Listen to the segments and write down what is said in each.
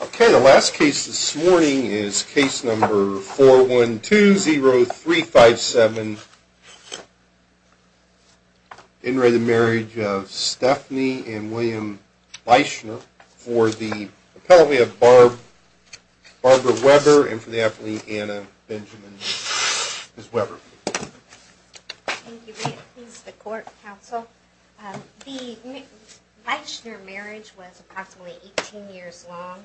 Okay, the last case this morning is case number 412-0357. In re the marriage of Stephanie and William Leischner for the appellate of Barbara Weber and for the appellate Anna Benjamin Weber. Thank you. This is the court counsel. The Leischner marriage was approximately 18 years long.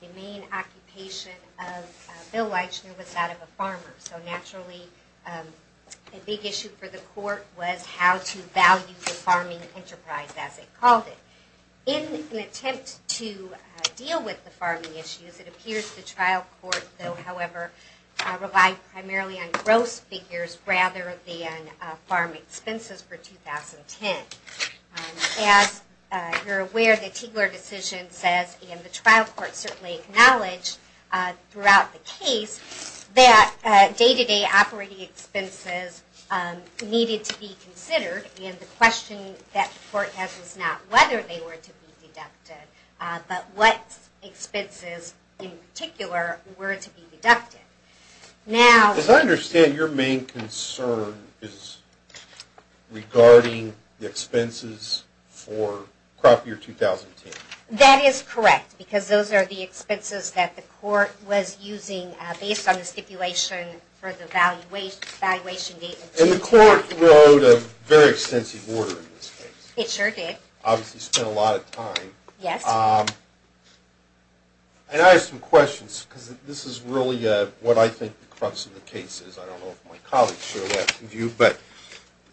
The main occupation of Bill Leischner was that of a farmer, so naturally a big issue for the court was how to value the farming enterprise as they called it. In an attempt to deal with the farming issues, it appears the trial court, though however, relied primarily on gross figures rather than farm expenses for 2010. As you're aware, the Tiegler decision says and the trial court certainly acknowledged throughout the case that day-to-day operating expenses needed to be considered and the question that the court has is not whether they were to be deducted, but what expenses in particular were to be deducted. As I understand, your main concern is regarding the expenses for crop year 2010. That is correct, because those are the expenses that the court was using based on the stipulation for the valuation date. And the court wrote a very extensive order in this case. It sure did. Obviously spent a lot of time. Yes. And I have some questions, because this is really what I think the crux of the case is. I don't know if my colleagues share that view, but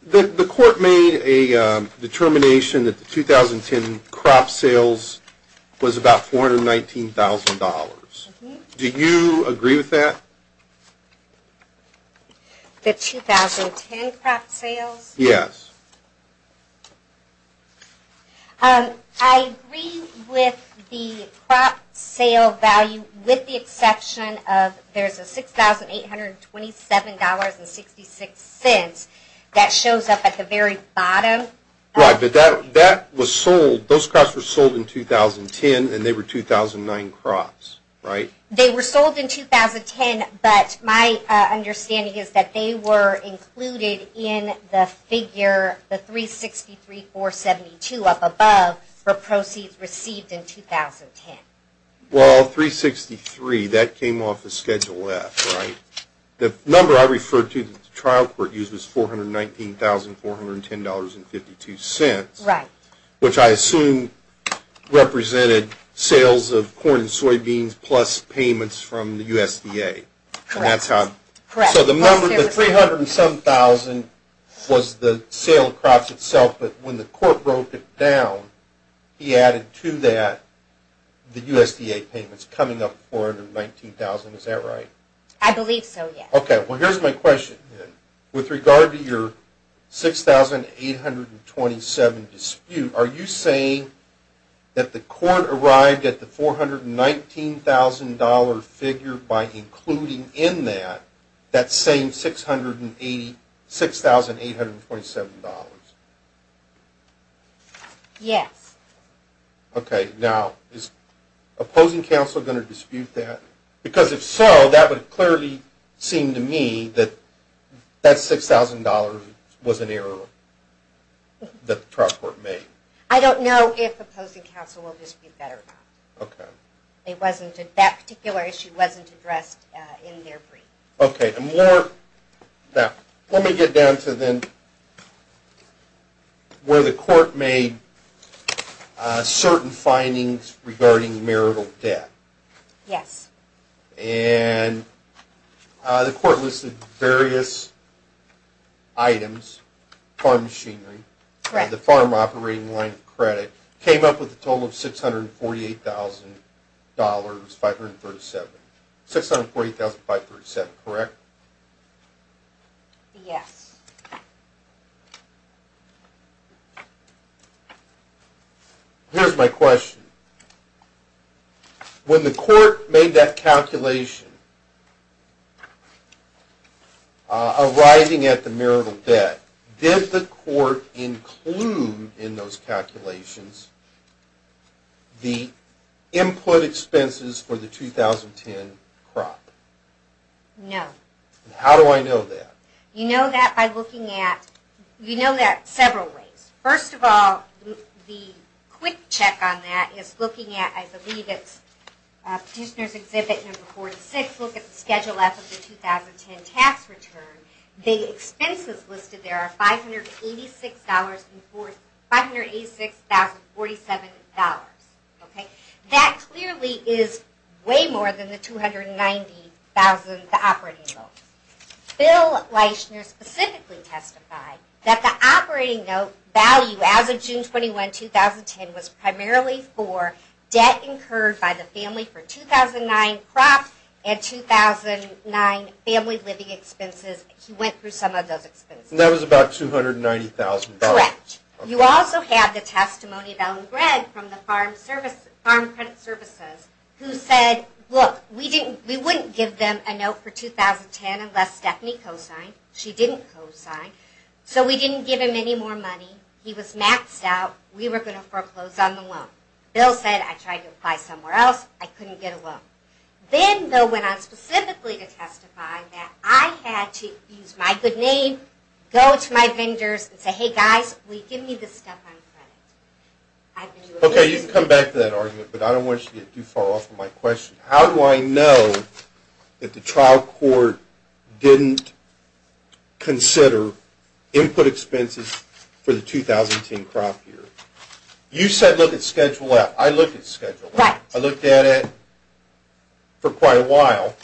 the court made a determination that the 2010 crop sales was about $419,000. Do you agree with that? The 2010 crop sales? Yes. I agree with the crop sale value with the exception of there's a $6,827.66 that shows up at the very bottom. Right, but that was sold, those crops were sold in 2010 and they were 2009 crops, right? They were sold in 2010, but my understanding is that they were included in the figure, the $363,472 up above for proceeds received in 2010. Well, $363, that came off of Schedule F, right? The number I referred to that the trial court used was $419,410.52. Right. Which I assume represented sales of corn and soybeans plus payments from the USDA. Correct. And that's how... Correct. So the number, the $307,000 was the sale of crops itself, but when the court broke it down, he added to that the USDA payments coming up $419,000, is that right? I believe so, yes. Okay, well here's my question then. With regard to your $6,827 dispute, are you saying that the court arrived at the $419,000 figure by including in that that same $6,827? Yes. Okay, now is opposing counsel going to dispute that? Because if so, that would clearly seem to me that that $6,000 was an error that the trial court made. I don't know if opposing counsel will dispute that or not. Okay. That particular issue wasn't addressed in their brief. Okay, now let me get down to then where the court made certain findings regarding marital debt. Yes. And the court listed various items, farm machinery, the farm operating line of credit, came up with a total of $648,537, correct? Yes. Okay. Here's my question. When the court made that calculation, arriving at the marital debt, did the court include in those calculations the input expenses for the 2010 crop? No. How do I know that? You know that by looking at, you know that several ways. First of all, the quick check on that is looking at, I believe it's Petitioner's Exhibit number 46, look at the Schedule F of the 2010 tax return. The expenses listed there are $586,047. Okay. That clearly is way more than the $290,000 operating loan. Bill Leischner specifically testified that the operating note value as of June 21, 2010, was primarily for debt incurred by the family for 2009 crop and 2009 family living expenses. He went through some of those expenses. That was about $290,000. Correct. You also have the testimony of Ellen Gregg from the Farm Credit Services who said, We wouldn't give them a note for 2010 unless Stephanie co-signed. She didn't co-sign. So we didn't give him any more money. He was maxed out. We were going to foreclose on the loan. Bill said, I tried to apply somewhere else. I couldn't get a loan. Then Bill went on specifically to testify that I had to use my good name, go to my vendors and say, hey guys, will you give me this stuff on credit? Okay, you can come back to that argument, but I don't want you to get too far off of my question. How do I know that the trial court didn't consider input expenses for the 2010 crop year? You said look at Schedule F. I looked at Schedule F. I looked at it for quite a while.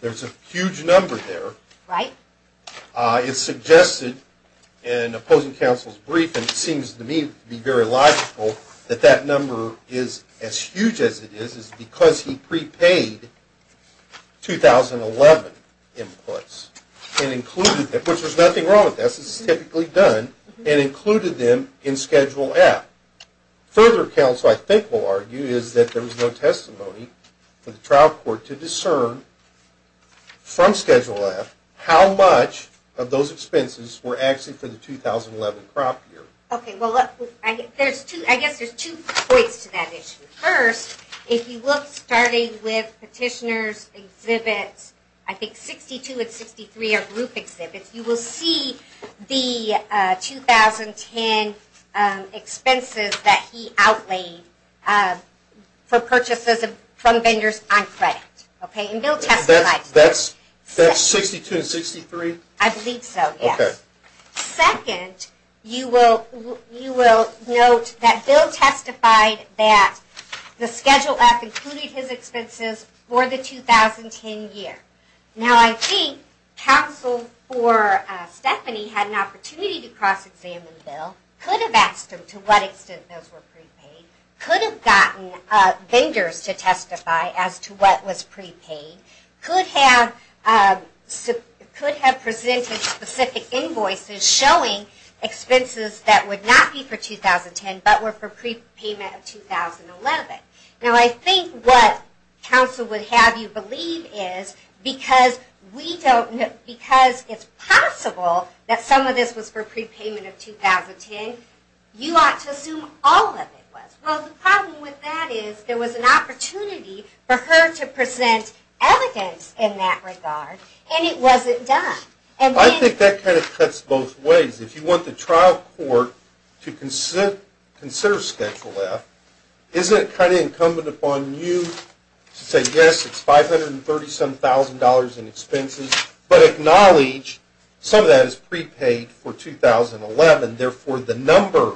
There's a huge number there. It's suggested in opposing counsel's brief, and it seems to me to be very logical that that number is as huge as it is because he prepaid 2011 inputs, which there's nothing wrong with this. This is typically done, and included them in Schedule F. Further counsel I think will argue is that there was no testimony for the trial court to discern from Schedule F how much of those expenses were actually for the 2011 crop year. I guess there's two points to that issue. First, if you look starting with Petitioner's exhibits, I think 62 and 63 are group exhibits, you will see the 2010 expenses that he outlaid for purchases from vendors on credit. Bill testified. That's 62 and 63? I believe so, yes. Second, you will note that Bill testified that the Schedule F included his expenses for the 2010 year. Now I think counsel for Stephanie had an opportunity to cross-examine Bill, could have asked him to what extent those were prepaid, could have gotten vendors to testify as to what was prepaid, could have presented specific invoices showing expenses that would not be for 2010 but were for prepayment of 2011. Now I think what counsel would have you believe is because it's possible that some of this was for prepayment of 2010, you ought to assume all of it was. Well, the problem with that is there was an opportunity for her to present evidence in that regard, and it wasn't done. I think that kind of cuts both ways. If you want the trial court to consider Schedule F, isn't it kind of incumbent upon you to say, yes, it's $537,000 in expenses but acknowledge some of that is prepaid for 2011, therefore the number,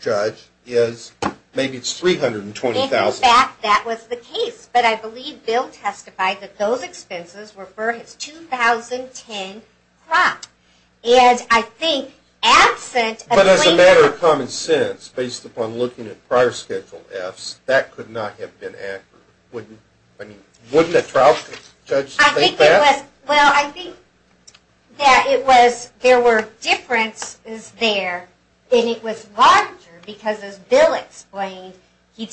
judge, is maybe it's $320,000. In fact, that was the case, but I believe Bill testified that those expenses were for his 2010 crop. But as a matter of common sense, based upon looking at prior Schedule Fs, that could not have been accurate. Wouldn't a trial court judge think that? Well, I think that there were differences there, and it was larger because, as Bill explained, he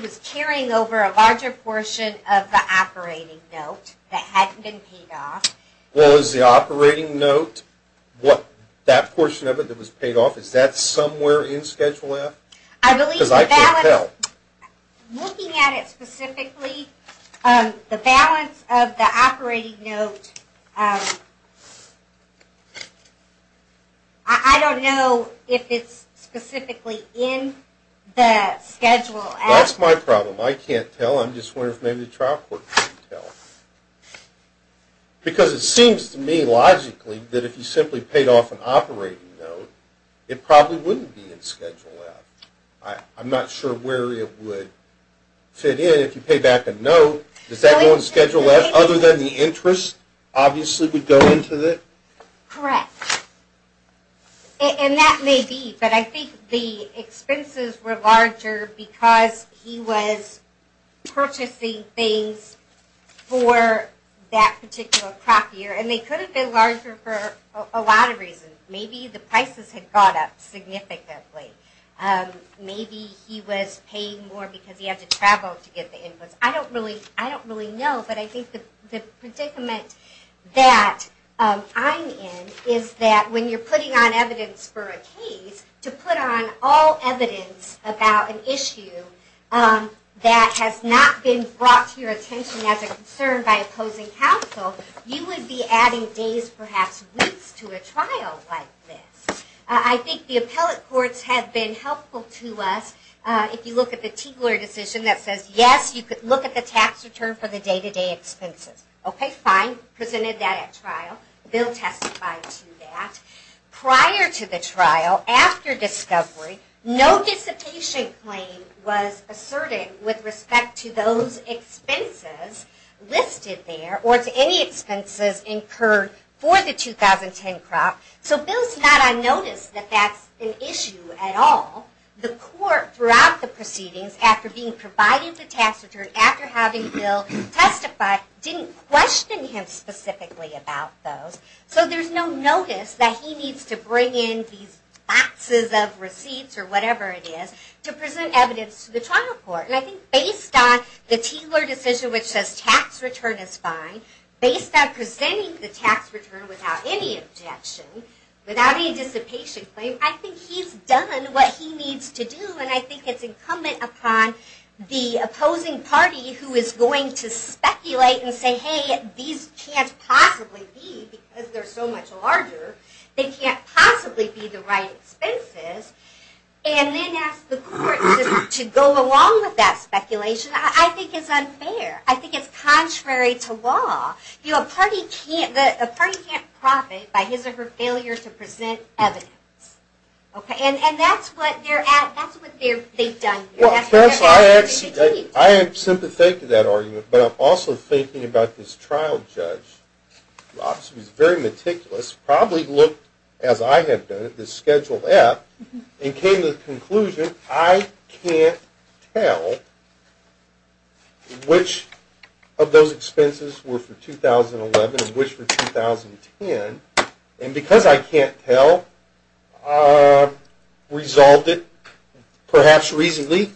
was carrying over a larger portion of the operating note that hadn't been paid off. Well, is the operating note, that portion of it that was paid off, is that somewhere in Schedule F? Because I can't tell. Looking at it specifically, the balance of the operating note, I don't know if it's specifically in the Schedule F. That's my problem. I can't tell. I'm just wondering if maybe the trial court can tell. Because it seems to me, logically, that if he simply paid off an operating note, it probably wouldn't be in Schedule F. I'm not sure where it would fit in. If you pay back a note, does that go in Schedule F, other than the interest obviously would go into it? Correct. And that may be, but I think the expenses were larger because he was purchasing things for that particular crop year, and they could have been larger for a lot of reasons. Maybe the prices had gone up significantly. Maybe he was paying more because he had to travel to get the inputs. I don't really know, but I think the predicament that I'm in is that when you're putting on evidence for a case, to put on all evidence about an issue that has not been brought to your attention as a concern by opposing counsel, you would be adding days, perhaps weeks, to a trial like this. I think the appellate courts have been helpful to us. If you look at the Tiegler decision that says, yes, you could look at the tax return for the day-to-day expenses. Okay, fine. Presented that at trial. Bill testified to that. Prior to the trial, after discovery, no dissipation claim was asserted with respect to those expenses listed there, or to any expenses incurred for the 2010 crop. So Bill's not on notice that that's an issue at all. The court, throughout the proceedings, after being provided the tax return, after having Bill testify, didn't question him specifically about those. So there's no notice that he needs to bring in these boxes of receipts, or whatever it is, to present evidence to the trial court. And I think based on the Tiegler decision, which says tax return is fine, based on presenting the tax return without any objection, without any dissipation claim, I think he's done what he needs to do, and I think it's incumbent upon the opposing party, who is going to speculate and say, hey, these can't possibly be, because they're so much larger, they can't possibly be the right expenses, and then ask the court to go along with that speculation, I think is unfair. I think it's contrary to law. A party can't profit by his or her failure to present evidence. And that's what they've done here. I am sympathetic to that argument, but I'm also thinking about this trial judge, who obviously was very meticulous, probably looked, as I had done, at this scheduled app, and came to the conclusion, I can't tell which of those expenses were for 2011, and which were for 2010, and because I can't tell, resolved it, perhaps reasonably,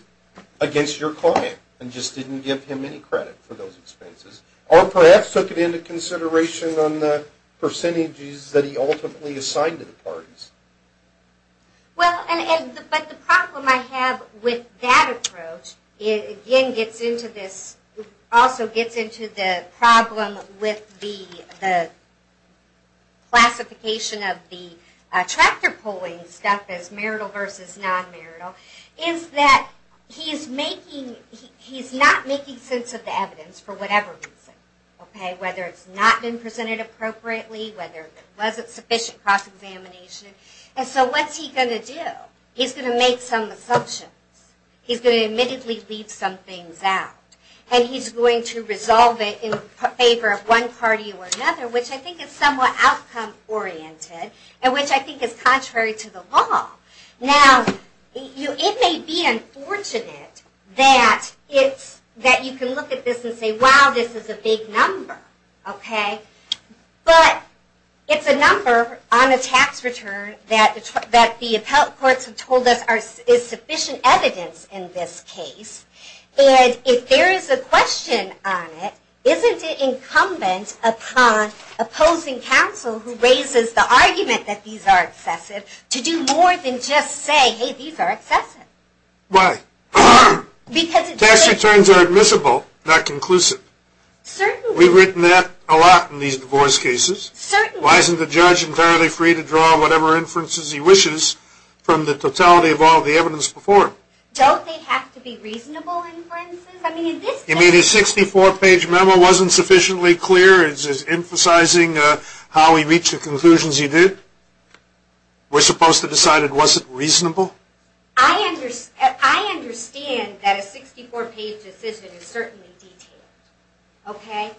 against your client, and just didn't give him any credit for those expenses, or perhaps took it into consideration on the percentages that he ultimately assigned to the parties. Well, but the problem I have with that approach, it again gets into this, also gets into the problem with the classification of the tractor pulling stuff as marital versus non-marital, is that he's making, he's not making sense of the evidence, for whatever reason. Whether it's not been presented appropriately, whether it wasn't sufficient cross-examination, and so what's he going to do? He's going to make some assumptions. He's going to admittedly leave some things out, and he's going to resolve it in favor of one party or another, which I think is somewhat outcome-oriented, and which I think is contrary to the law. Now, it may be unfortunate that you can look at this and say, wow, this is a big number, okay? But it's a number on a tax return that the appellate courts have told us is sufficient evidence in this case, and if there is a question on it, isn't it incumbent upon opposing counsel who raises the argument that these are excessive to do more than just say, hey, these are excessive? Why? Because it's... Tax returns are admissible, not conclusive. Certainly. We've written that a lot in these divorce cases. Certainly. Why isn't the judge entirely free to draw whatever inferences he wishes from the totality of all the evidence before him? Don't they have to be reasonable inferences? I mean, in this case... You mean his 64-page memo wasn't sufficiently clear? It's emphasizing how he reached the conclusions he did? We're supposed to decide it wasn't reasonable? I understand that a 64-page decision is certainly detailed, okay?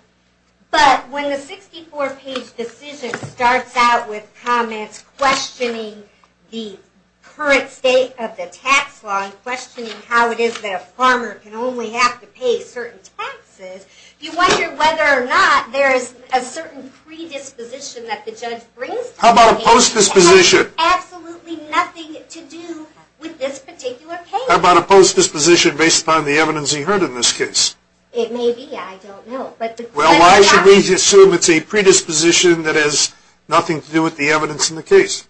But when the 64-page decision starts out with comments questioning the current state of the tax law and questioning how it is that a farmer can only have to pay certain taxes, you wonder whether or not there is a certain predisposition that the judge brings to the case. How about a post-disposition? It has absolutely nothing to do with this particular case. How about a post-disposition based upon the evidence he heard in this case? It may be. I don't know. Well, why should we assume it's a predisposition that has nothing to do with the evidence in the case?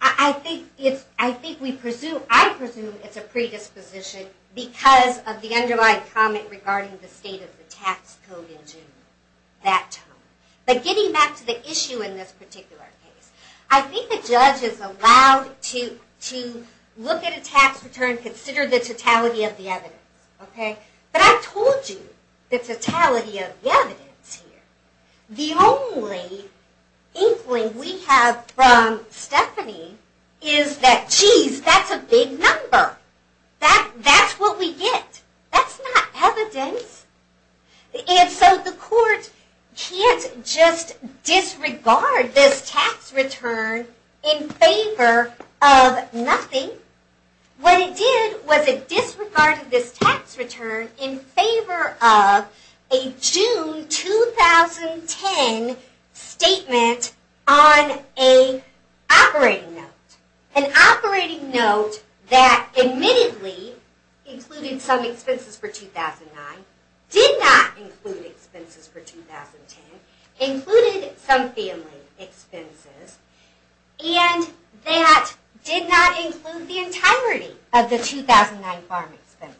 I think we presume... I presume it's a predisposition because of the underlying comment regarding the state of the tax code in June that time. But getting back to the issue in this particular case, I think the judge is allowed to look at a tax return, consider the totality of the evidence, okay? But I told you the totality of the evidence here. The only inkling we have from Stephanie is that, geez, that's a big number. That's what we get. That's not evidence. And so the court can't just disregard this tax return in favor of nothing. What it did was it disregarded this tax return in favor of a June 2010 statement on an operating note. An operating note that admittedly included some expenses for 2009, did not include expenses for 2010, included some family expenses, and that did not include the entirety of the 2009 farm expenses.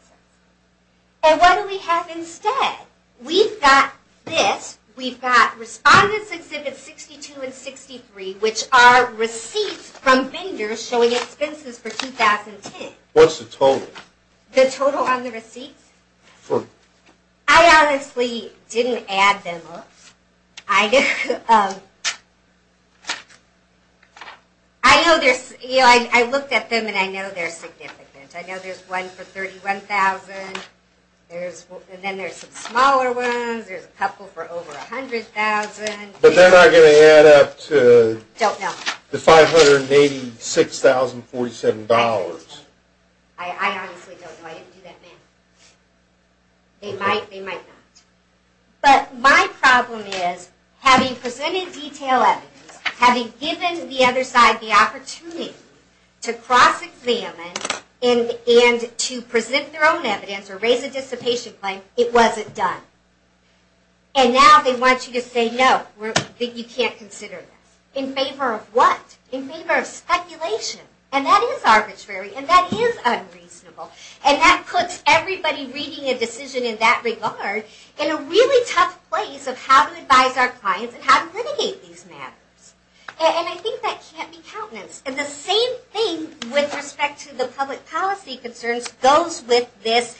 And what do we have instead? We've got this. We've got Respondents Exhibits 62 and 63, which are receipts from vendors showing expenses for 2010. What's the total? The total on the receipts? I honestly didn't add them up. I looked at them, and I know they're significant. I know there's one for $31,000, and then there's some smaller ones. There's a couple for over $100,000. But they're not going to add up to $586,047. I honestly don't know. I didn't do that math. They might not. But my problem is, having presented detailed evidence, having given the other side the opportunity to cross-examine and to present their own evidence or raise a dissipation claim, it wasn't done. And now they want you to say, no, you can't consider this. In favor of what? In favor of speculation. And that is arbitrary, and that is unreasonable. And that puts everybody reading a decision in that regard in a really tough place of how to advise our clients and how to litigate these matters. And I think that can't be countenance. And the same thing with respect to the public policy concerns goes with this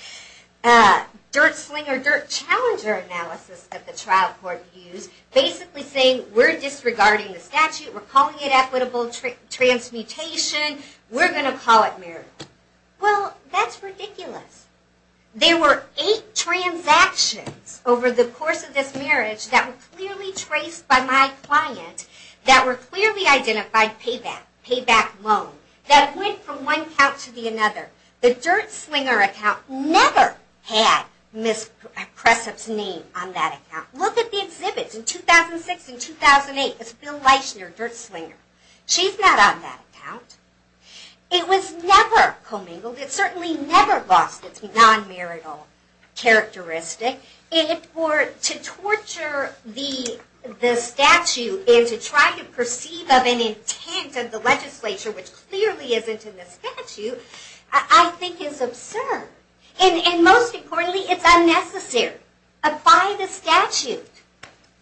dirt-slinger, dirt-challenger analysis that the trial court used, basically saying, we're disregarding the statute. We're calling it equitable transmutation. We're going to call it meritorious. Well, that's ridiculous. There were eight transactions over the course of this marriage that were clearly traced by my client, that were clearly identified payback, payback loan, that went from one account to another. The dirt-slinger account never had Ms. Pressup's name on that account. Look at the exhibits in 2006 and 2008. It's Bill Leishner, dirt-slinger. She's not on that account. It was never commingled. It certainly never lost its non-marital characteristic. And to torture the statute and to try to perceive of an intent of the legislature, which clearly isn't in the statute, I think is absurd. And most importantly, it's unnecessary. Apply the statute.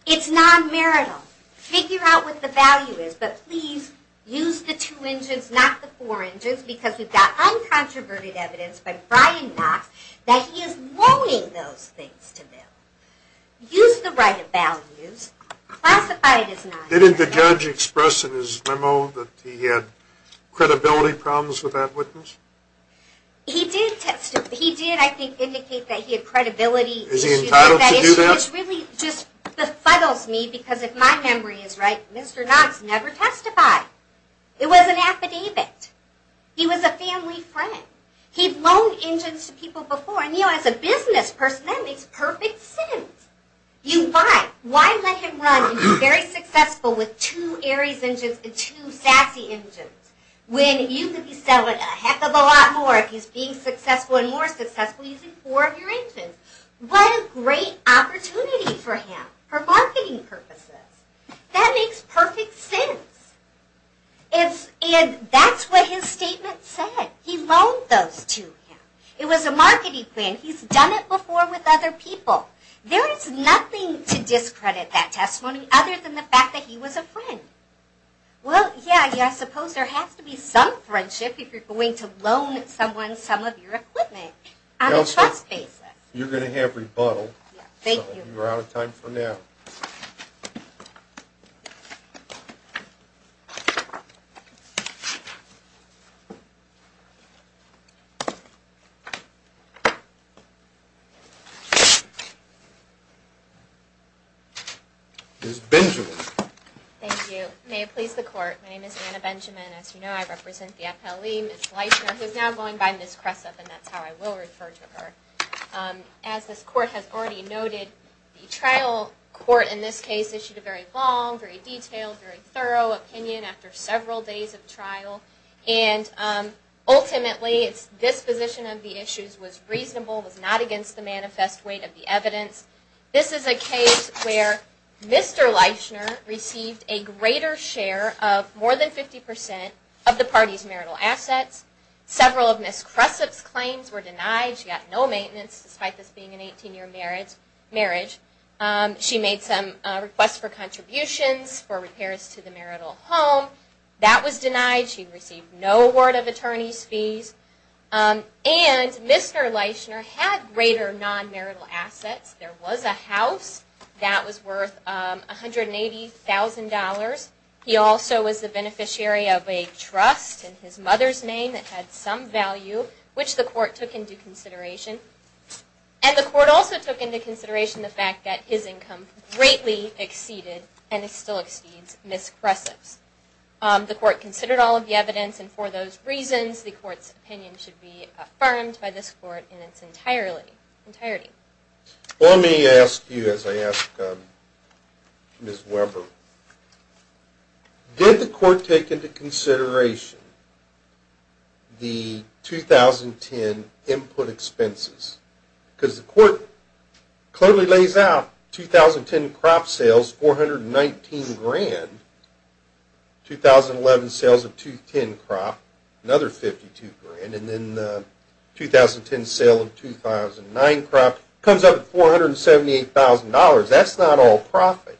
It's non-marital. Figure out what the value is. But please use the two engines, not the four engines, because we've got uncontroverted evidence by Brian Knox that he is loaning those things to Bill. Use the right of values. Classify it as non-marital. Didn't the judge express in his memo that he had credibility problems with that witness? He did, I think, indicate that he had credibility issues. Is he entitled to do that? It really just befuddles me, because if my memory is right, Mr. Knox never testified. It was an affidavit. He was a family friend. He'd loaned engines to people before, and as a business person, that makes perfect sense. Why let him run and be very successful with two Aries engines and two Sassy engines when you could be selling a heck of a lot more if he's being successful and more successful using four of your engines? What a great opportunity for him for marketing purposes. That makes perfect sense. And that's what his statement said. He loaned those to him. It was a marketing plan. He's done it before with other people. There is nothing to discredit that testimony other than the fact that he was a friend. Well, yeah, I suppose there has to be some friendship if you're going to loan someone some of your equipment on a trust basis. You're going to have rebuttal. Thank you. We're out of time for now. Ms. Benjamin. Thank you. May it please the Court, my name is Anna Benjamin. As you know, I represent the FLE, Ms. Leishner, who is now going by Ms. Cressup, and that's how I will refer to her. As this Court has already noted, the trial court in this case issued a very long, very detailed, very thorough opinion after several days of trial, and ultimately its disposition of the issues was reasonable, was not against the manifest weight of the evidence. This is a case where Mr. Leishner received a greater share of more than 50% of the party's marital assets. Several of Ms. Cressup's claims were denied. She got no maintenance, despite this being an 18-year marriage. She made some requests for contributions for repairs to the marital home. That was denied. She received no award of attorney's fees. And Mr. Leishner had greater non-marital assets. There was a house that was worth $180,000. He also was the beneficiary of a trust in his mother's name that had some value, which the Court took into consideration. And the Court also took into consideration the fact that his income greatly exceeded and still exceeds Ms. Cressup's. The Court considered all of the evidence, and for those reasons the Court's opinion should be affirmed by this Court in its entirety. Let me ask you, as I ask Ms. Weber, did the Court take into consideration the 2010 input expenses? Because the Court clearly lays out 2010 crop sales, $419,000. 2011 sales of 2010 crop, another $52,000. And then the 2010 sale of 2009 crop comes up at $478,000. That's not all profit.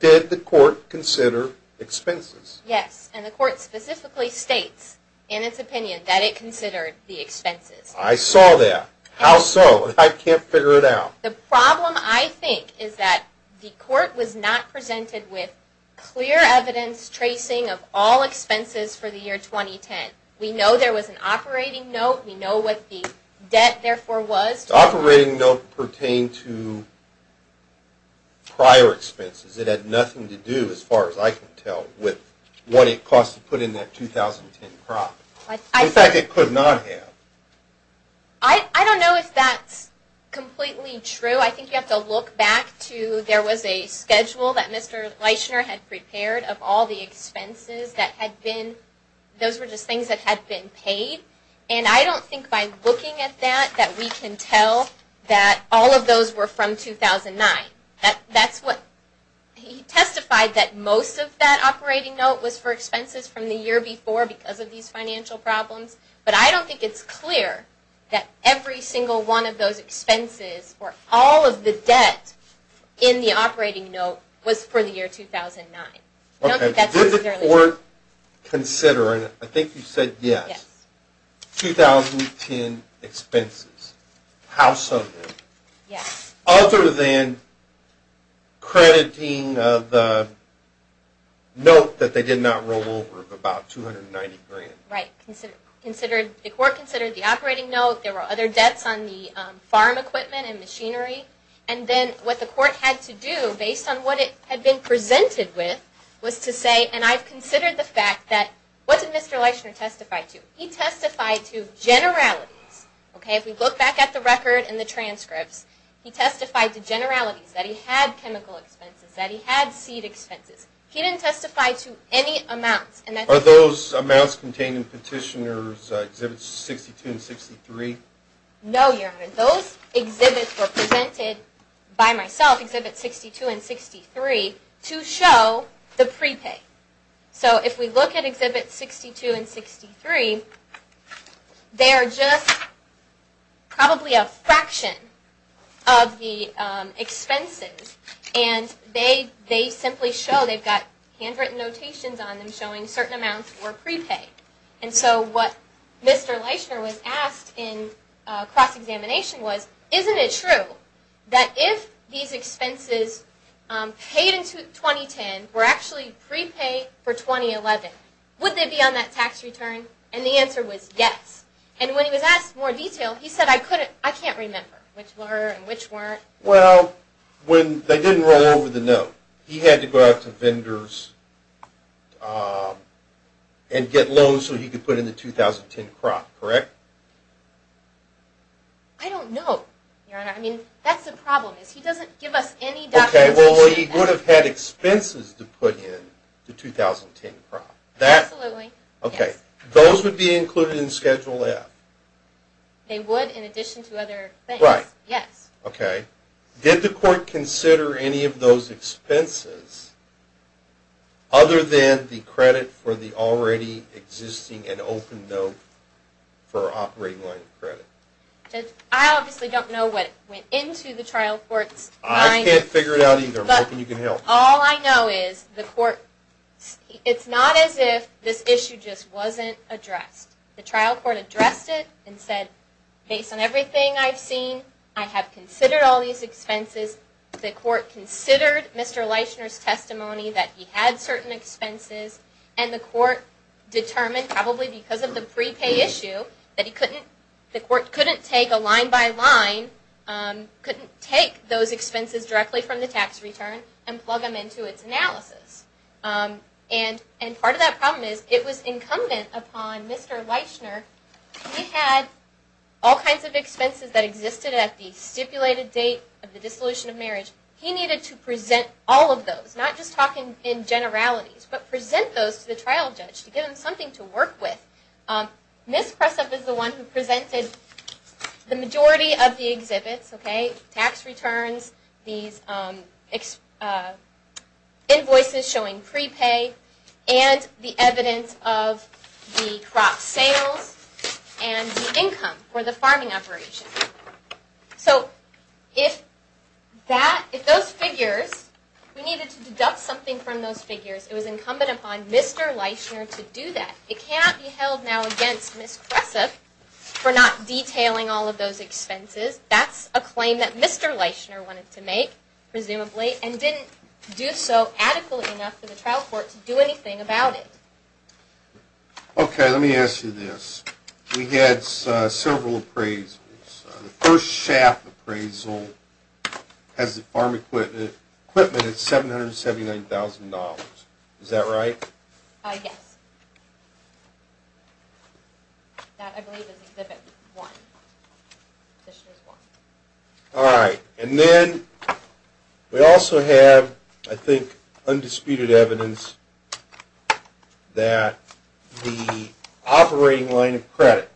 Did the Court consider expenses? Yes, and the Court specifically states in its opinion that it considered the expenses. I saw that. How so? I can't figure it out. The problem, I think, is that the Court was not presented with clear evidence tracing of all expenses for the year 2010. We know there was an operating note. We know what the debt, therefore, was. The operating note pertained to prior expenses. It had nothing to do, as far as I can tell, with what it cost to put in that 2010 crop. In fact, it could not have. I don't know if that's completely true. I think you have to look back to, there was a schedule that Mr. Leishner had prepared of all the expenses that had been, those were just things that had been paid. And I don't think by looking at that we can tell that all of those were from 2009. He testified that most of that operating note was for expenses from the year before because of these financial problems. But I don't think it's clear that every single one of those expenses, or all of the debt in the operating note, was for the year 2009. Did the Court consider, and I think you said yes, 2010 expenses, how so? Yes. Other than crediting the note that they did not roll over of about $290,000. Right. The Court considered the operating note. There were other debts on the farm equipment and machinery. And then what the Court had to do, based on what it had been presented with, was to say, and I've considered the fact that, what did Mr. Leishner testify to? He testified to generalities. If we look back at the record and the transcripts, he testified to generalities, that he had chemical expenses, that he had seed expenses. He didn't testify to any amounts. Are those amounts contained in Petitioner's Exhibits 62 and 63? No, Your Honor. Those exhibits were presented by myself, Exhibits 62 and 63, to show the prepay. So if we look at Exhibits 62 and 63, they are just probably a fraction of the expenses. And they simply show, they've got handwritten notations on them showing certain amounts were prepaid. And so what Mr. Leishner was asked in cross-examination was, isn't it true that if these expenses paid in 2010 were actually prepaid for 2011, would they be on that tax return? And the answer was yes. And when he was asked in more detail, he said, I can't remember which were and which weren't. Well, when they didn't roll over the note, he had to go out to vendors and get loans so he could put in the 2010 crop, correct? I don't know, Your Honor. I mean, that's the problem, is he doesn't give us any documentation. Okay. Well, he would have had expenses to put in the 2010 crop. Absolutely. Okay. Those would be included in Schedule F. They would in addition to other things. Right. Yes. Okay. Did the court consider any of those expenses other than the credit for the already existing and open note for operating line credit? I obviously don't know what went into the trial court's mind. I can't figure it out either. I'm hoping you can help. All I know is the court, it's not as if this issue just wasn't addressed. The trial court addressed it and said, based on everything I've seen, I have considered all these expenses. The court considered Mr. Leishner's testimony that he had certain expenses, and the court determined probably because of the prepay issue that the court couldn't take a line-by-line, couldn't take those expenses directly from the tax return and plug them into its analysis. And part of that problem is, it was incumbent upon Mr. Leishner, he had all kinds of expenses that existed at the stipulated date of the dissolution of marriage. He needed to present all of those, not just talking in generalities, but present those to the trial judge to give him something to work with. Ms. Pressup is the one who presented the majority of the exhibits, tax returns, these invoices showing prepay, and the evidence of the crop sales and the income for the farming operation. So if those figures, we needed to deduct something from those figures, it was incumbent upon Mr. Leishner to do that. It cannot be held now against Ms. Pressup for not detailing all of those expenses. That's a claim that Mr. Leishner wanted to make, presumably, and didn't do so adequately enough for the trial court to do anything about it. Okay, let me ask you this. We had several appraisals. The first SHAP appraisal has the farm equipment at $779,000. Is that right? Yes. That, I believe, is Exhibit 1. All right. And then we also have, I think, undisputed evidence that the operating line of credit,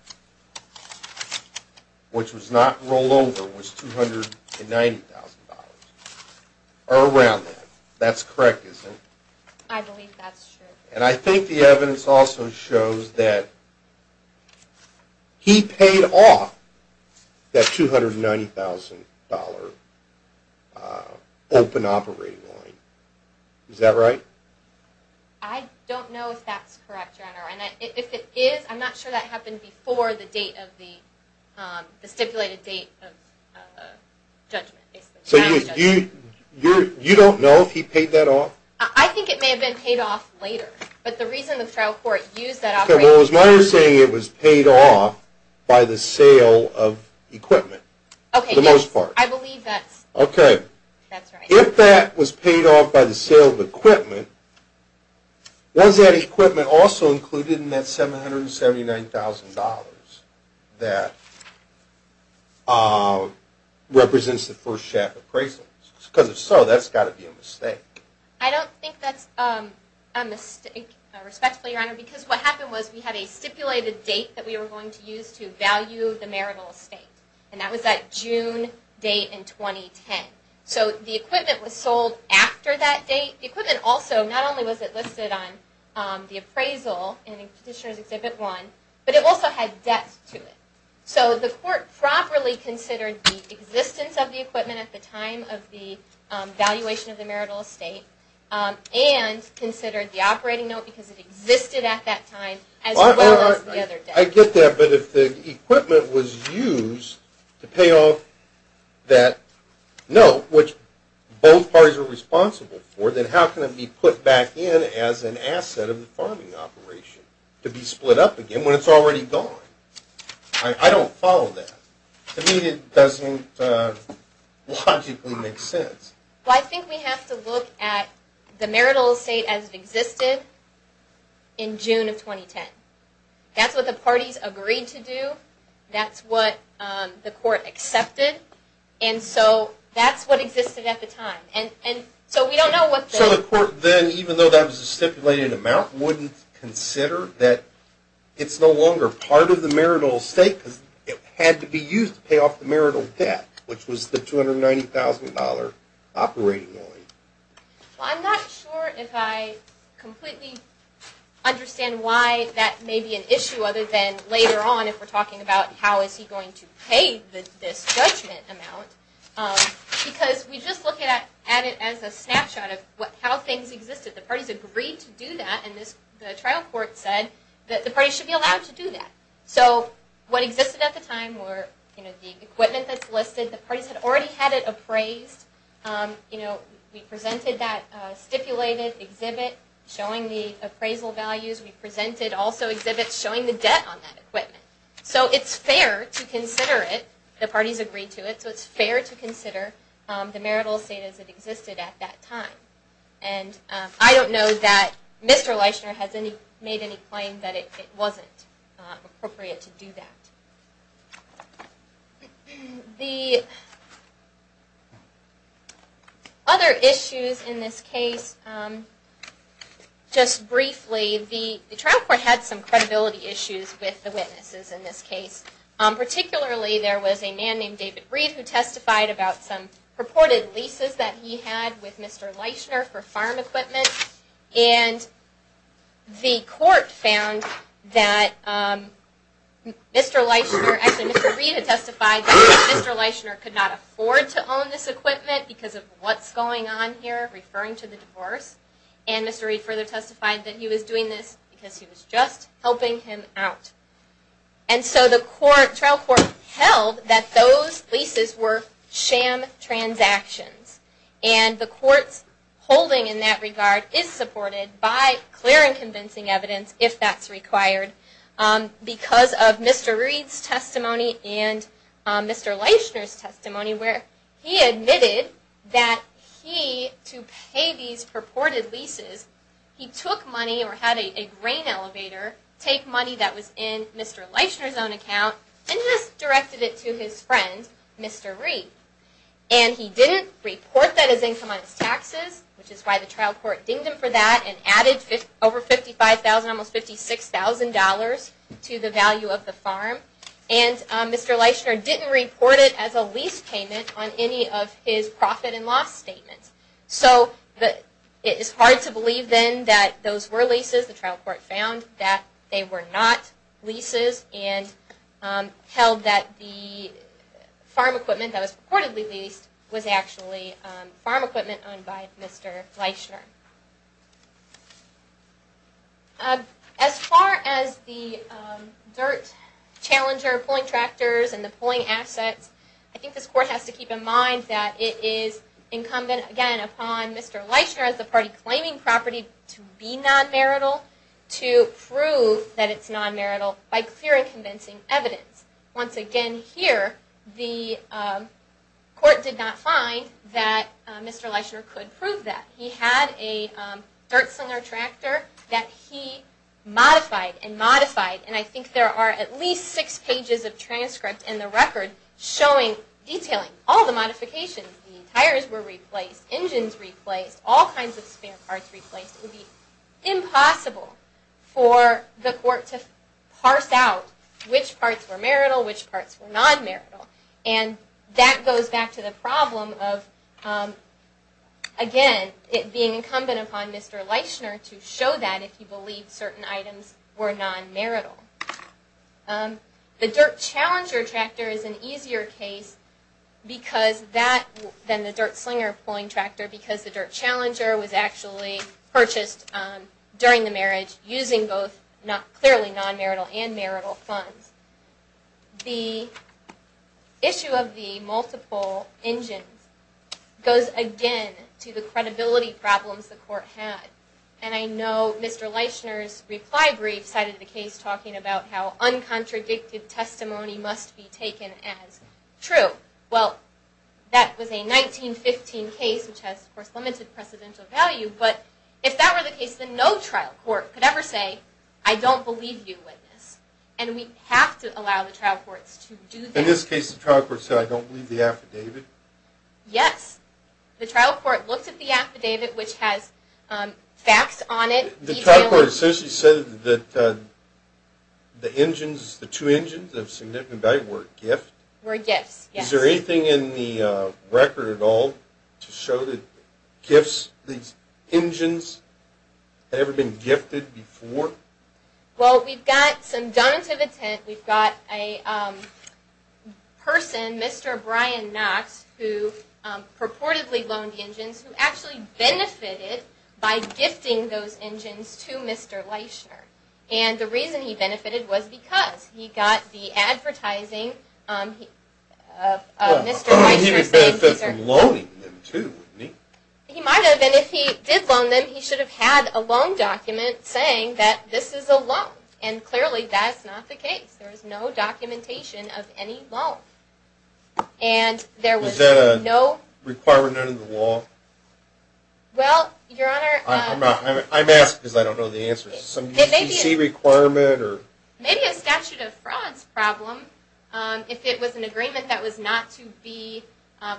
which was not rolled over, was $290,000 or around that. That's correct, isn't it? I believe that's true. And I think the evidence also shows that he paid off that $290,000 open operating line. Is that right? I don't know if that's correct, Your Honor. If it is, I'm not sure that happened before the stipulated date of judgment. So you don't know if he paid that off? I think it may have been paid off later. But the reason the trial court used that operating line... Okay, well, as long as you're saying it was paid off by the sale of equipment, for the most part. I believe that's... Okay. That's right. If that was paid off by the sale of equipment, was that equipment also included in that $779,000 Because if so, that's got to be a mistake. I don't think that's a mistake, respectfully, Your Honor, because what happened was we had a stipulated date that we were going to use to value the marital estate. And that was that June date in 2010. So the equipment was sold after that date. The equipment also, not only was it listed on the appraisal in Petitioner's Exhibit 1, but it also had debts to it. So the court properly considered the existence of the equipment at the time of the valuation of the marital estate and considered the operating note because it existed at that time as well as the other debt. I get that. But if the equipment was used to pay off that note, which both parties are responsible for, then how can it be put back in as an asset of the farming operation to be split up again when it's already gone? I don't follow that. To me it doesn't logically make sense. Well, I think we have to look at the marital estate as it existed in June of 2010. That's what the parties agreed to do. That's what the court accepted. And so that's what existed at the time. So we don't know what the... So the court then, even though that was a stipulated amount, wouldn't consider that it's no longer part of the marital estate because it had to be used to pay off the marital debt, which was the $290,000 operating loan. Well, I'm not sure if I completely understand why that may be an issue other than later on if we're talking about how is he going to pay this judgment amount because we just look at it as a snapshot of how things existed. The parties agreed to do that, and the trial court said that the parties should be allowed to do that. So what existed at the time were the equipment that's listed. The parties had already had it appraised. We presented that stipulated exhibit showing the appraisal values. We presented also exhibits showing the debt on that equipment. So it's fair to consider it. The parties agreed to it, so it's fair to consider the marital estate as it existed at that time. I don't know that Mr. Leishner has made any claim that it wasn't appropriate to do that. Other issues in this case. Just briefly, the trial court had some credibility issues with the witnesses in this case. Particularly, there was a man named David Reed who testified about some purported leases that he had with Mr. Leishner for farm equipment. And the court found that Mr. Leishner, actually Mr. Reed had testified that Mr. Leishner could not afford to own this equipment because of what's going on here, referring to the divorce. And Mr. Reed further testified that he was doing this because he was just helping him out. And so the trial court held that those leases were sham transactions. And the court's holding in that regard is supported by clear and convincing evidence, if that's required, because of Mr. Reed's testimony and Mr. Leishner's testimony where he admitted that he, to pay these purported leases, he took money or had a grain elevator take money that was in Mr. Leishner's own account and just directed it to his friend, Mr. Reed. And he didn't report that as income on his taxes, which is why the trial court dinged him for that and added over $55,000, almost $56,000 to the value of the farm. And Mr. Leishner didn't report it as a lease payment on any of his profit and loss statements. So it is hard to believe then that those were leases. The trial court found that they were not leases and held that the farm equipment that was purportedly leased was actually farm equipment owned by Mr. Leishner. As far as the dirt challenger pulling tractors and the pulling assets, I think this court has to keep in mind that it is incumbent, again, upon Mr. Leishner as the party claiming property to be non-marital to prove that it's non-marital by clear and convincing evidence. Once again, here, the court did not find that Mr. Leishner could prove that. He had a dirt slinger tractor that he modified and modified, and I think there are at least six pages of transcript in the record detailing all the modifications. The tires were replaced, engines replaced, all kinds of spare parts replaced. It would be impossible for the court to parse out which parts were marital, which parts were non-marital. And that goes back to the problem of, again, it being incumbent upon Mr. Leishner to show that if he believed certain items were non-marital. The dirt challenger tractor is an easier case than the dirt slinger pulling tractor because the dirt challenger was actually purchased during the marriage using both clearly non-marital and marital funds. The issue of the multiple engines goes, again, to the credibility problems the court had. And I know Mr. Leishner's reply brief cited the case talking about how uncontradicted testimony must be taken as true. Well, that was a 1915 case, which has, of course, limited precedential value, but if that were the case, then no trial court could ever say, I don't believe you with this. And we have to allow the trial courts to do that. In this case, the trial court said, I don't believe the affidavit? Yes. The trial court looked at the affidavit, which has facts on it. The trial court essentially said that the engines, the two engines of significant value were a gift? Were gifts, yes. Is there anything in the record at all to show that gifts, these engines had ever been gifted before? Well, we've got some donative intent. We've got a person, Mr. Brian Knox, who purportedly loaned the engines, who actually benefited by gifting those engines to Mr. Leishner. And the reason he benefited was because he got the advertising of Mr. Leishner. He would benefit from loaning them too, wouldn't he? He might have, and if he did loan them, he should have had a loan document saying that this is a loan. And clearly, that's not the case. There is no documentation of any loan. And there was no? Was that a requirement under the law? Well, Your Honor. I'm asking because I don't know the answer. Some UCC requirement or? Maybe a statute of frauds problem. If it was an agreement that was not to be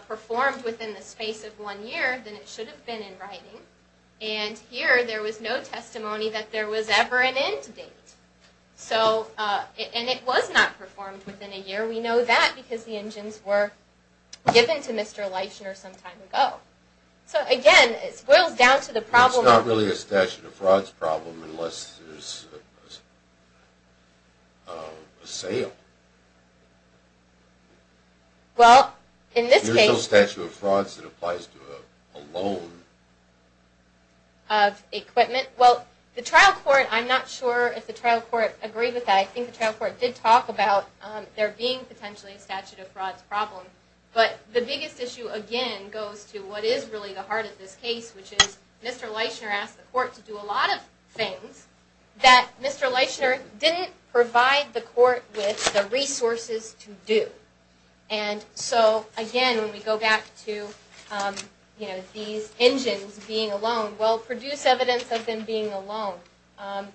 performed within the space of one year, then it should have been in writing. And here, there was no testimony that there was ever an end date. And it was not performed within a year. We know that because the engines were given to Mr. Leishner some time ago. So, again, it boils down to the problem. It's not really a statute of frauds problem unless there's a sale. Well, in this case. There's no statute of frauds that applies to a loan. Of equipment. Well, the trial court, I'm not sure if the trial court agreed with that. I think the trial court did talk about there being potentially a statute of frauds problem. But the biggest issue, again, goes to what is really the heart of this case, which is Mr. Leishner asked the court to do a lot of things that Mr. Leishner didn't provide the court with the resources to do. And so, again, when we go back to these engines being a loan, well, produce evidence of them being a loan.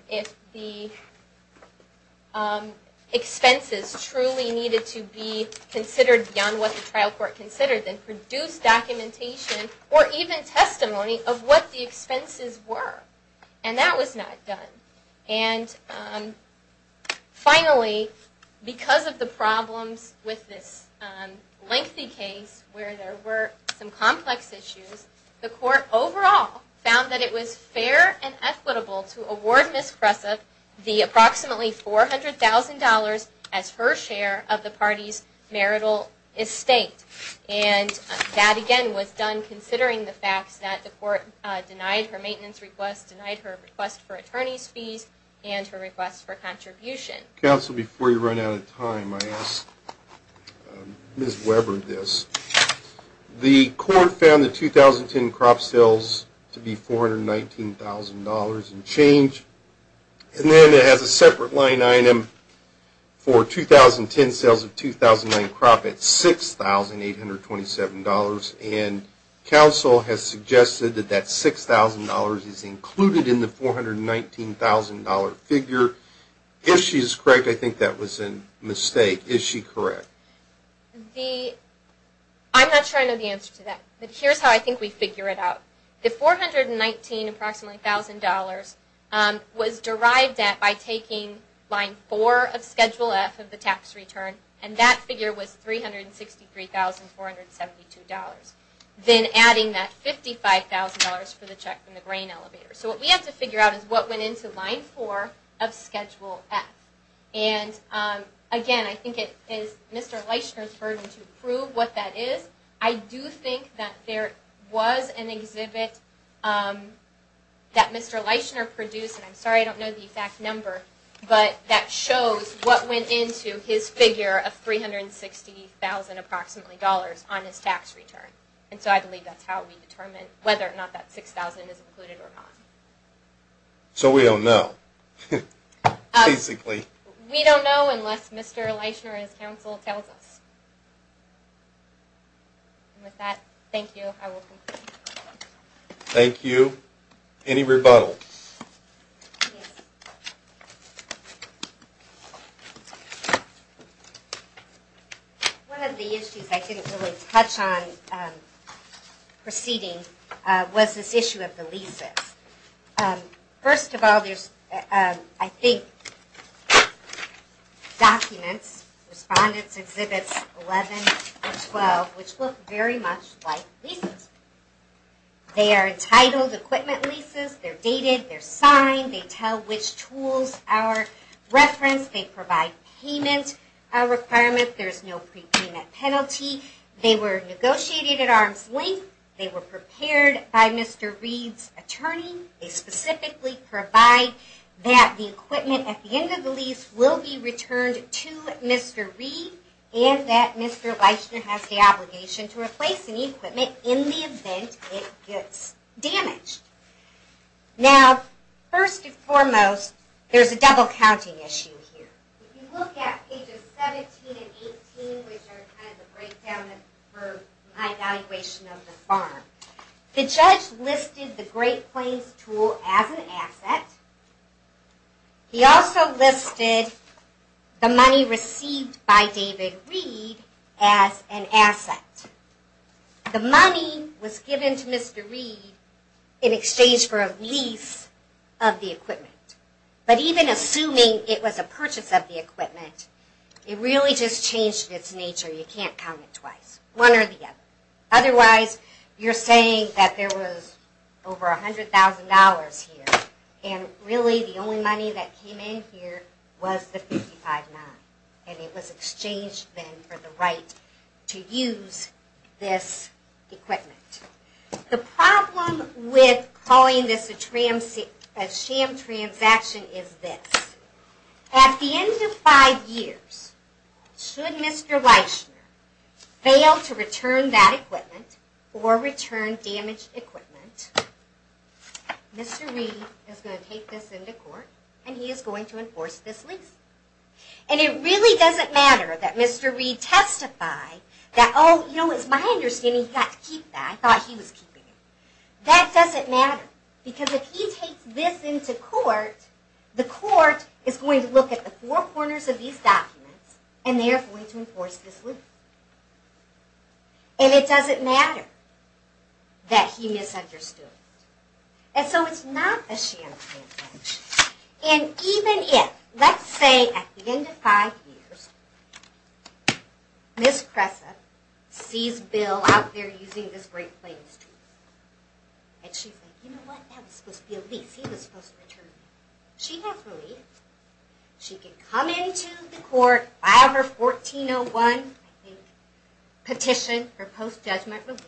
If the expenses truly needed to be considered beyond what the trial court considered, then produce documentation or even testimony of what the expenses were. And that was not done. And, finally, because of the problems with this lengthy case where there were some complex issues, the court overall found that it was fair and equitable to award Ms. Kressa the approximately $400,000 as her share of the party's marital estate. And that, again, was done considering the facts that the court denied her maintenance request, denied her request for attorney's fees, and her request for contribution. Counsel, before you run out of time, I ask Ms. Weber this. The court found the 2010 crop sales to be $419,000 and change. And then it has a separate line item for 2010 sales of 2009 crop at $6,827. And counsel has suggested that that $6,000 is included in the $419,000 figure. If she is correct, I think that was a mistake. Is she correct? I'm not sure I know the answer to that. But here's how I think we figure it out. The $419,000 was derived at by taking line four of Schedule F of the tax return, and that figure was $363,472. Then adding that $55,000 for the check from the grain elevator. So what we have to figure out is what went into line four of Schedule F. And, again, I think it is Mr. Leishner's burden to prove what that is. I do think that there was an exhibit that Mr. Leishner produced, and I'm sorry I don't know the exact number, but that shows what went into his figure of $360,000 approximately on his tax return. And so I believe that's how we determine whether or not that $6,000 is included or not. So we don't know, basically. We don't know unless Mr. Leishner and his counsel tell us. And with that, thank you. I will conclude. Thank you. Any rebuttals? One of the issues I didn't really touch on preceding was this issue of the leases. First of all, there's, I think, documents, respondents' exhibits 11 and 12, which look very much like leases. They are entitled equipment leases. They're dated. They're signed. They tell which tools are referenced. They provide payment requirements. There's no prepayment penalty. They were negotiated at arm's length. They were prepared by Mr. Reed's attorney. They specifically provide that the equipment at the end of the lease will be returned to Mr. Reed and that Mr. Leishner has the obligation to replace any equipment in the event it gets damaged. Now, first and foremost, there's a double-counting issue here. If you look at pages 17 and 18, which are kind of the breakdown for my evaluation of the farm, the judge listed the Great Plains tool as an asset. He also listed the money received by David Reed as an asset. The money was given to Mr. Reed in exchange for a lease of the equipment. But even assuming it was a purchase of the equipment, it really just changed its nature. You can't count it twice, one or the other. Otherwise, you're saying that there was over $100,000 here, and really the only money that came in here was the 55-9, and it was exchanged then for the right to use this equipment. The problem with calling this a sham transaction is this. At the end of five years, should Mr. Leishner fail to return that equipment or return damaged equipment, Mr. Reed is going to take this into court and he is going to enforce this lease. And it really doesn't matter that Mr. Reed testified that, oh, you know, it's my understanding he got to keep that. I thought he was keeping it. That doesn't matter, because if he takes this into court, the court is going to look at the four corners of these documents, and they are going to enforce this lease. And it doesn't matter that he misunderstood it. And so it's not a sham transaction. And even if, let's say at the end of five years, Ms. Cressa sees Bill out there using this Great Plains tree, and she's like, you know what, that was supposed to be a lease. He was supposed to return it. She has relief. She can come into the court, file her 1401 petition for post-judgment relief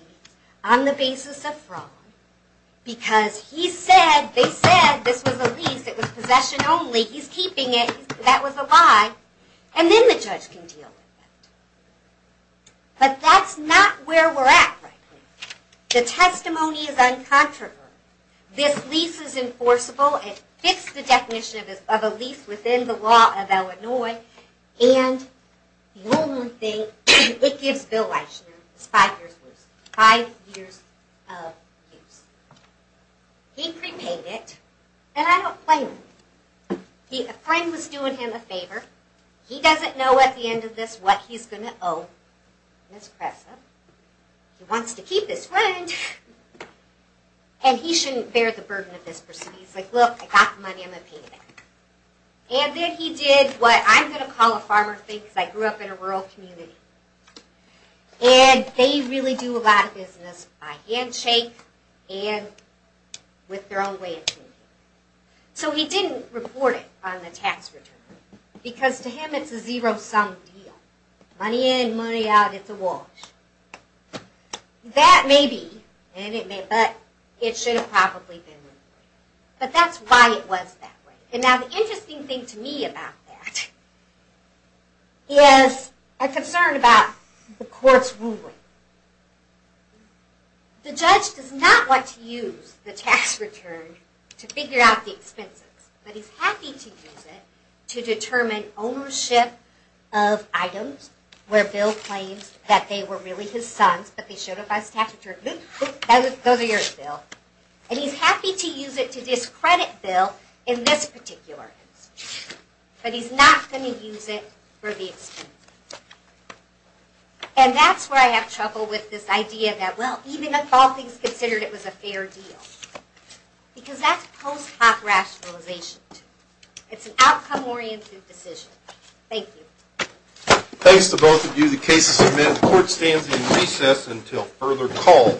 on the basis of fraud, because he said, they said this was a lease. It was possession only. He's keeping it. That was a lie. And then the judge can deal with it. But that's not where we're at right now. The testimony is uncontroversial. This lease is enforceable. It fits the definition of a lease within the law of Illinois. And the only thing it gives Bill Weissner is five years' worth. Five years of use. He prepaid it, and I don't blame him. A friend was doing him a favor. He doesn't know at the end of this what he's going to owe Ms. Cressa. He wants to keep his friend. And he shouldn't bear the burden of this proceeding. He's like, look, I got the money, I'm going to pay you back. And then he did what I'm going to call a farmer thing, because I grew up in a rural community. And they really do a lot of business by handshake and with their own way of thinking. So he didn't report it on the tax return, because to him it's a zero-sum deal. Money in, money out, it's a wash. That may be, but it should have probably been. But that's why it was that way. And now the interesting thing to me about that is a concern about the court's ruling. The judge does not want to use the tax return to figure out the expenses, but he's happy to use it to determine ownership of items where Bill claims that they were really his son's, but they showed up as tax returns. Those are yours, Bill. And he's happy to use it to discredit Bill in this particular instance, but he's not going to use it for the expense. And that's where I have trouble with this idea that, well, even if all things considered it was a fair deal, because that's post hoc rationalization. It's an outcome-oriented decision. Thank you. Thanks to both of you. The case is admitted. The court stands in recess until further call.